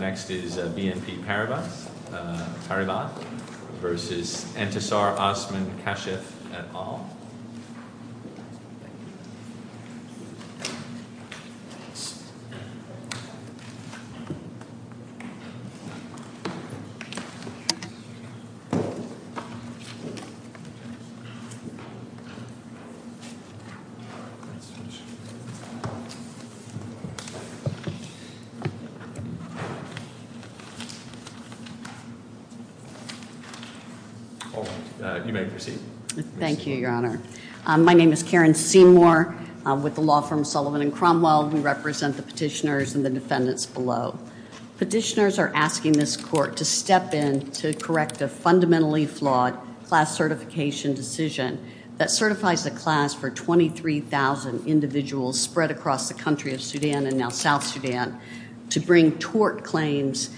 BNP Paribas SA v. Entisar Osman Kashef et al. All right. You may proceed. Thank you, Your Honor. My name is Karen Seymour. With the law firm Sullivan and Cromwell, we represent the petitioners and the defendants below. Petitioners are asking this court to step in to correct a fundamentally flawed class certification decision that certifies the class for 23,000 individuals spread across the country of Sudan and now South Sudan to bring tort claims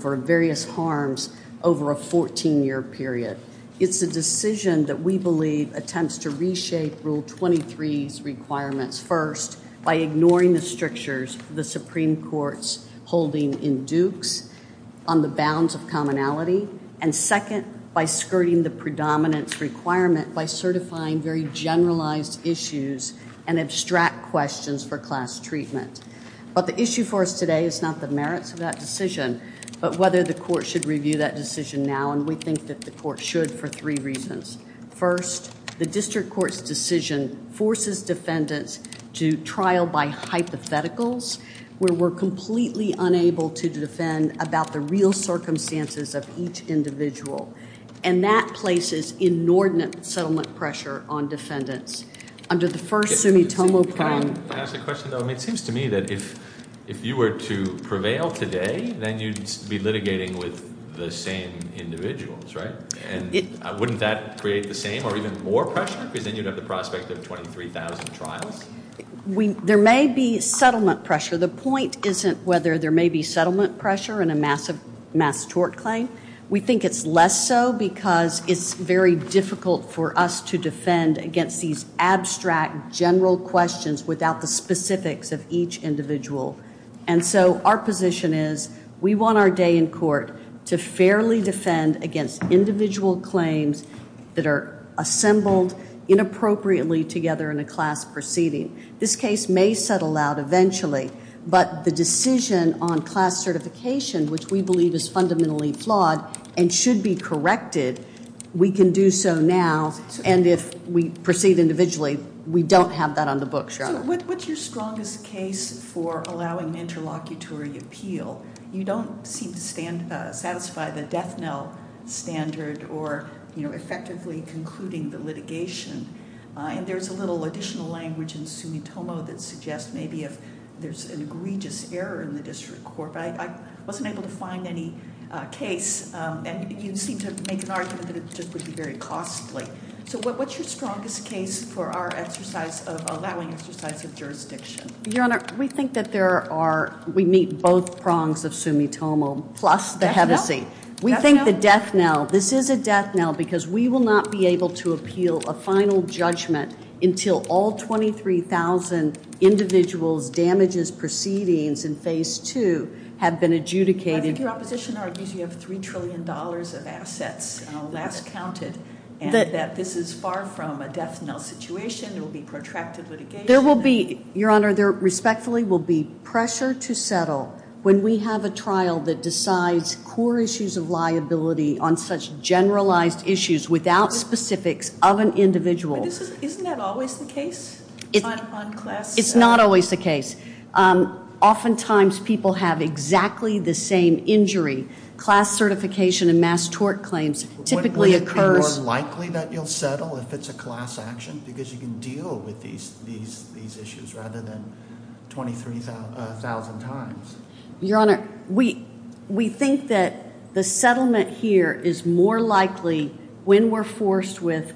for various harms over a 14-year period. It's a decision that we believe attempts to reshape Rule 23's requirements, first, by ignoring the strictures the Supreme Court's holding in Dukes on the bounds of commonality, and second, by skirting the predominance requirement by certifying very generalized issues and abstract questions for class treatment. But the issue for us today is not the merits of that decision, but whether the court should review that decision now. And we think that the court should for three reasons. First, the district court's decision forces defendants to trial by hypotheticals where we're completely unable to defend about the real circumstances of each individual. And that places inordinate settlement pressure on defendants. Can I ask a question, though? It seems to me that if you were to prevail today, then you'd be litigating with the same individuals, right? And wouldn't that create the same or even more pressure? Because then you'd have the prospect of 23,000 trials. There may be settlement pressure. The point isn't whether there may be settlement pressure in a mass tort claim. We think it's less so because it's very difficult for us to defend against these abstract, general questions without the specifics of each individual. And so our position is we want our day in court to fairly defend against individual claims that are assembled inappropriately together in a class proceeding. This case may settle out eventually, but the decision on class certification, which we believe is fundamentally flawed and should be corrected, we can do so now. And if we proceed individually, we don't have that on the books, Your Honor. So what's your strongest case for allowing an interlocutory appeal? You don't seem to satisfy the death knell standard or effectively concluding the litigation. And there's a little additional language in Sumitomo that suggests maybe if there's an egregious error in the district court. But I wasn't able to find any case. And you seem to make an argument that it just would be very costly. So what's your strongest case for our exercise of allowing exercise of jurisdiction? Your Honor, we think that there are, we meet both prongs of Sumitomo plus the Hennessey. Death knell? Death knell? This is a death knell because we will not be able to appeal a final judgment until all 23,000 individuals' damages proceedings in phase two have been adjudicated. I think your opposition argues you have $3 trillion of assets last counted and that this is far from a death knell situation. It will be protracted litigation. Your Honor, there respectfully will be pressure to settle when we have a trial that decides core issues of liability on such generalized issues without specifics of an individual. Isn't that always the case? It's not always the case. Oftentimes people have exactly the same injury. Class certification and mass tort claims typically occurs. Is it more likely that you'll settle if it's a class action because you can deal with these issues rather than 23,000 times? Your Honor, we think that the settlement here is more likely when we're forced with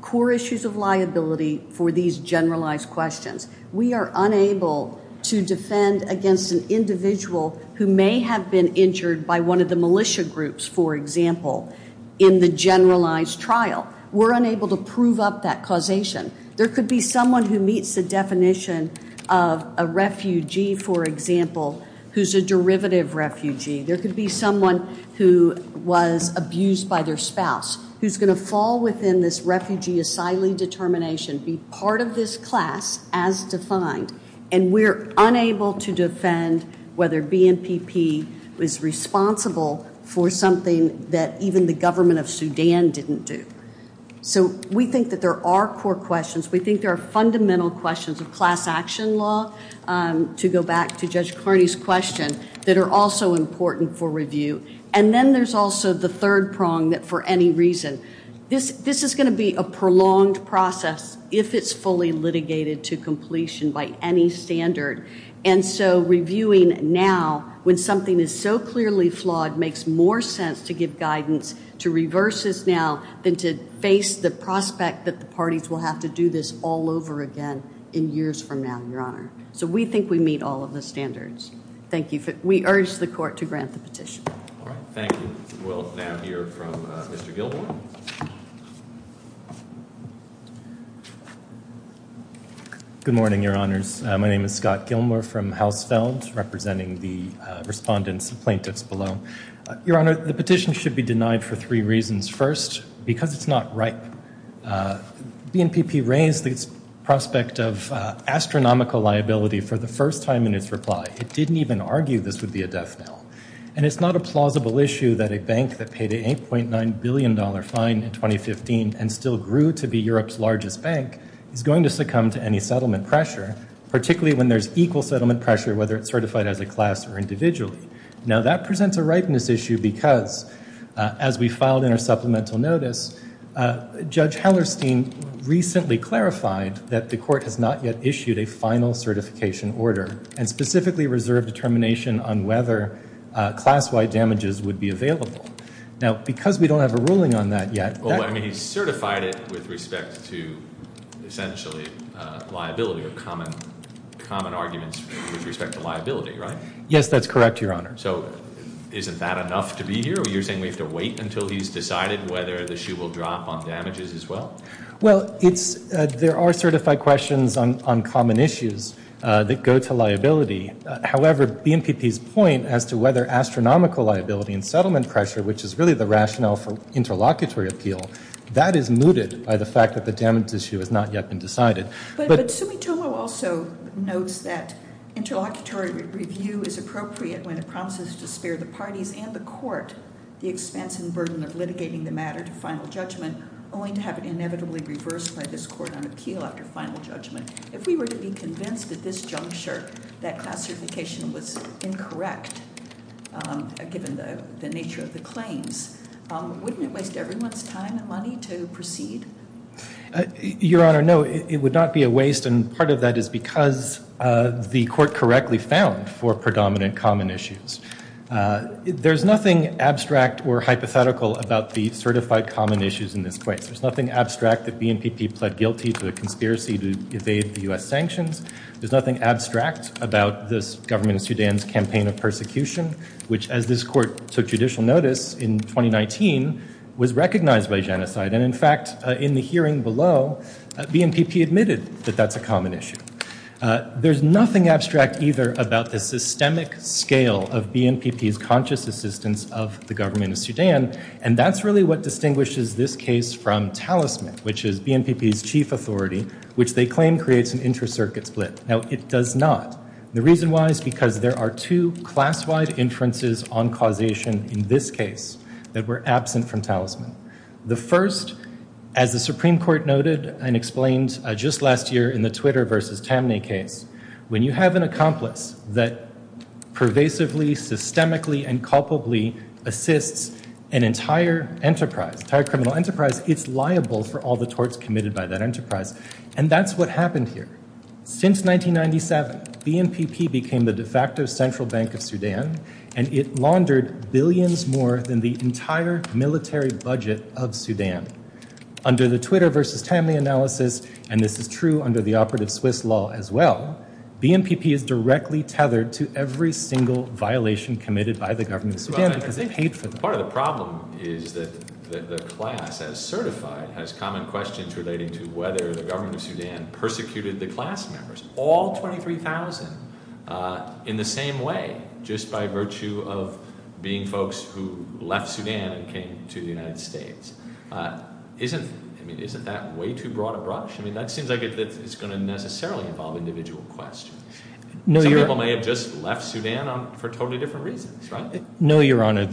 core issues of liability for these generalized questions. We are unable to defend against an individual who may have been injured by one of the militia groups, for example, in the generalized trial. We're unable to prove up that causation. There could be someone who meets the definition of a refugee, for example, who's a derivative refugee. There could be someone who was abused by their spouse who's going to fall within this refugee asylee determination, be part of this class as defined, and we're unable to defend whether BNPP was responsible for something that even the government of Sudan didn't do. So we think that there are core questions. We think there are fundamental questions of class action law, to go back to Judge Carney's question, that are also important for review. And then there's also the third prong that for any reason. This is going to be a prolonged process if it's fully litigated to completion by any standard. And so reviewing now when something is so clearly flawed makes more sense to give guidance, to reverse this now, than to face the prospect that the parties will have to do this all over again in years from now, Your Honor. So we think we meet all of the standards. Thank you. We urge the court to grant the petition. Thank you. We'll now hear from Mr. Gilmore. Good morning, Your Honors. My name is Scott Gilmore from Hausfeld, representing the respondents and plaintiffs below. Your Honor, the petition should be denied for three reasons. First, because it's not ripe. BNPP raised its prospect of astronomical liability for the first time in its reply. It didn't even argue this would be a death knell. And it's not a plausible issue that a bank that paid an $8.9 billion fine in 2015 and still grew to be Europe's largest bank is going to succumb to any settlement pressure, particularly when there's equal settlement pressure, whether it's certified as a class or individually. Now, that presents a ripeness issue because, as we filed in our supplemental notice, Judge Hellerstein recently clarified that the court has not yet issued a final certification order and specifically reserved determination on whether class-wide damages would be available. Now, because we don't have a ruling on that yet. Well, I mean, he certified it with respect to essentially liability or common arguments with respect to liability, right? Yes, that's correct, Your Honor. So isn't that enough to be here? You're saying we have to wait until he's decided whether the shoe will drop on damages as well? Well, there are certified questions on common issues that go to liability. However, BNPP's point as to whether astronomical liability and settlement pressure, which is really the rationale for interlocutory appeal, that is mooted by the fact that the damage issue has not yet been decided. But Sumitomo also notes that interlocutory review is appropriate when it promises to spare the parties and the court the expense and burden of litigating the matter to final judgment, only to have it inevitably reversed by this court on appeal after final judgment. If we were to be convinced at this juncture that class certification was incorrect, given the nature of the claims, wouldn't it waste everyone's time and money to proceed? Your Honor, no, it would not be a waste. And part of that is because the court correctly found four predominant common issues. There's nothing abstract or hypothetical about the certified common issues in this case. There's nothing abstract that BNPP pled guilty to a conspiracy to evade the U.S. sanctions. There's nothing abstract about this government of Sudan's campaign of persecution, which, as this court took judicial notice in 2019, was recognized by Genocide. And in fact, in the hearing below, BNPP admitted that that's a common issue. There's nothing abstract either about the systemic scale of BNPP's conscious assistance of the government of Sudan. And that's really what distinguishes this case from talisman, which is BNPP's chief authority, which they claim creates an inter-circuit split. Now, it does not. The reason why is because there are two class-wide inferences on causation in this case that were absent from talisman. The first, as the Supreme Court noted and explained just last year in the Twitter v. Tamney case, when you have an accomplice that pervasively, systemically, and culpably assists an entire enterprise, entire criminal enterprise, it's liable for all the torts committed by that enterprise. And that's what happened here. Since 1997, BNPP became the de facto central bank of Sudan, and it laundered billions more than the entire military budget of Sudan. Under the Twitter v. Tamney analysis, and this is true under the operative Swiss law as well, BNPP is directly tethered to every single violation committed by the government of Sudan because they paid for them. Part of the problem is that the class as certified has common questions relating to whether the government of Sudan persecuted the class members. All 23,000 in the same way, just by virtue of being folks who left Sudan and came to the United States. Isn't that way too broad a brush? I mean, that seems like it's going to necessarily involve individual questions. Some people may have just left Sudan for totally different reasons, right? No, Your Honor. And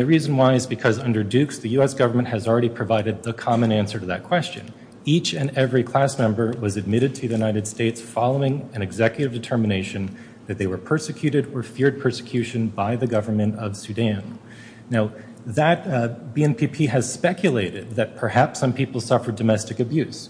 the reason why is because under Dukes, the U.S. government has already provided the common answer to that question. Each and every class member was admitted to the United States following an executive determination that they were persecuted or feared persecution by the government of Sudan. Now, that BNPP has speculated that perhaps some people suffered domestic abuse.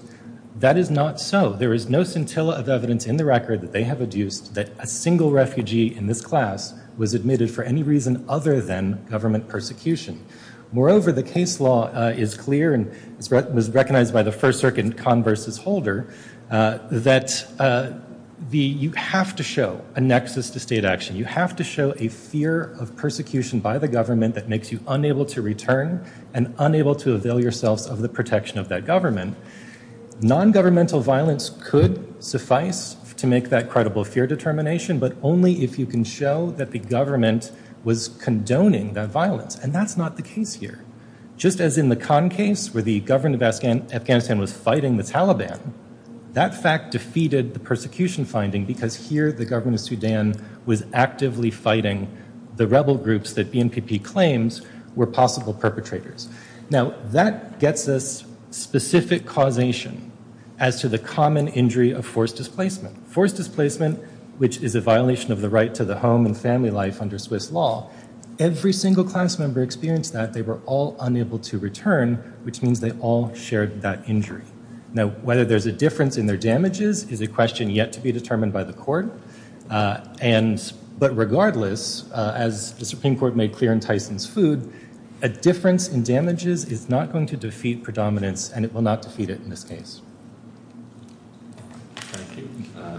That is not so. There is no scintilla of evidence in the record that they have adduced that a single refugee in this class was admitted for any reason other than government persecution. Moreover, the case law is clear and was recognized by the first circuit con versus holder that you have to show a nexus to state action. You have to show a fear of persecution by the government that makes you unable to return and unable to avail yourselves of the protection of that government. Non-governmental violence could suffice to make that credible fear determination, but only if you can show that the government was condoning that violence. And that's not the case here. Just as in the Khan case where the government of Afghanistan was fighting the Taliban, that fact defeated the persecution finding because here the government of Sudan was actively fighting the rebel groups that BNPP claims were possible perpetrators. Now, that gets us specific causation as to the common injury of forced displacement. Forced displacement, which is a violation of the right to the home and family life under Swiss law, every single class member experienced that. They were all unable to return, which means they all shared that injury. Now, whether there's a difference in their damages is a question yet to be determined by the court. But regardless, as the Supreme Court made clear in Tyson's food, a difference in damages is not going to defeat predominance and it will not defeat it in this case. Thank you.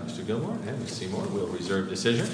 Mr. Gilmour and Ms. Seymour will reserve decision.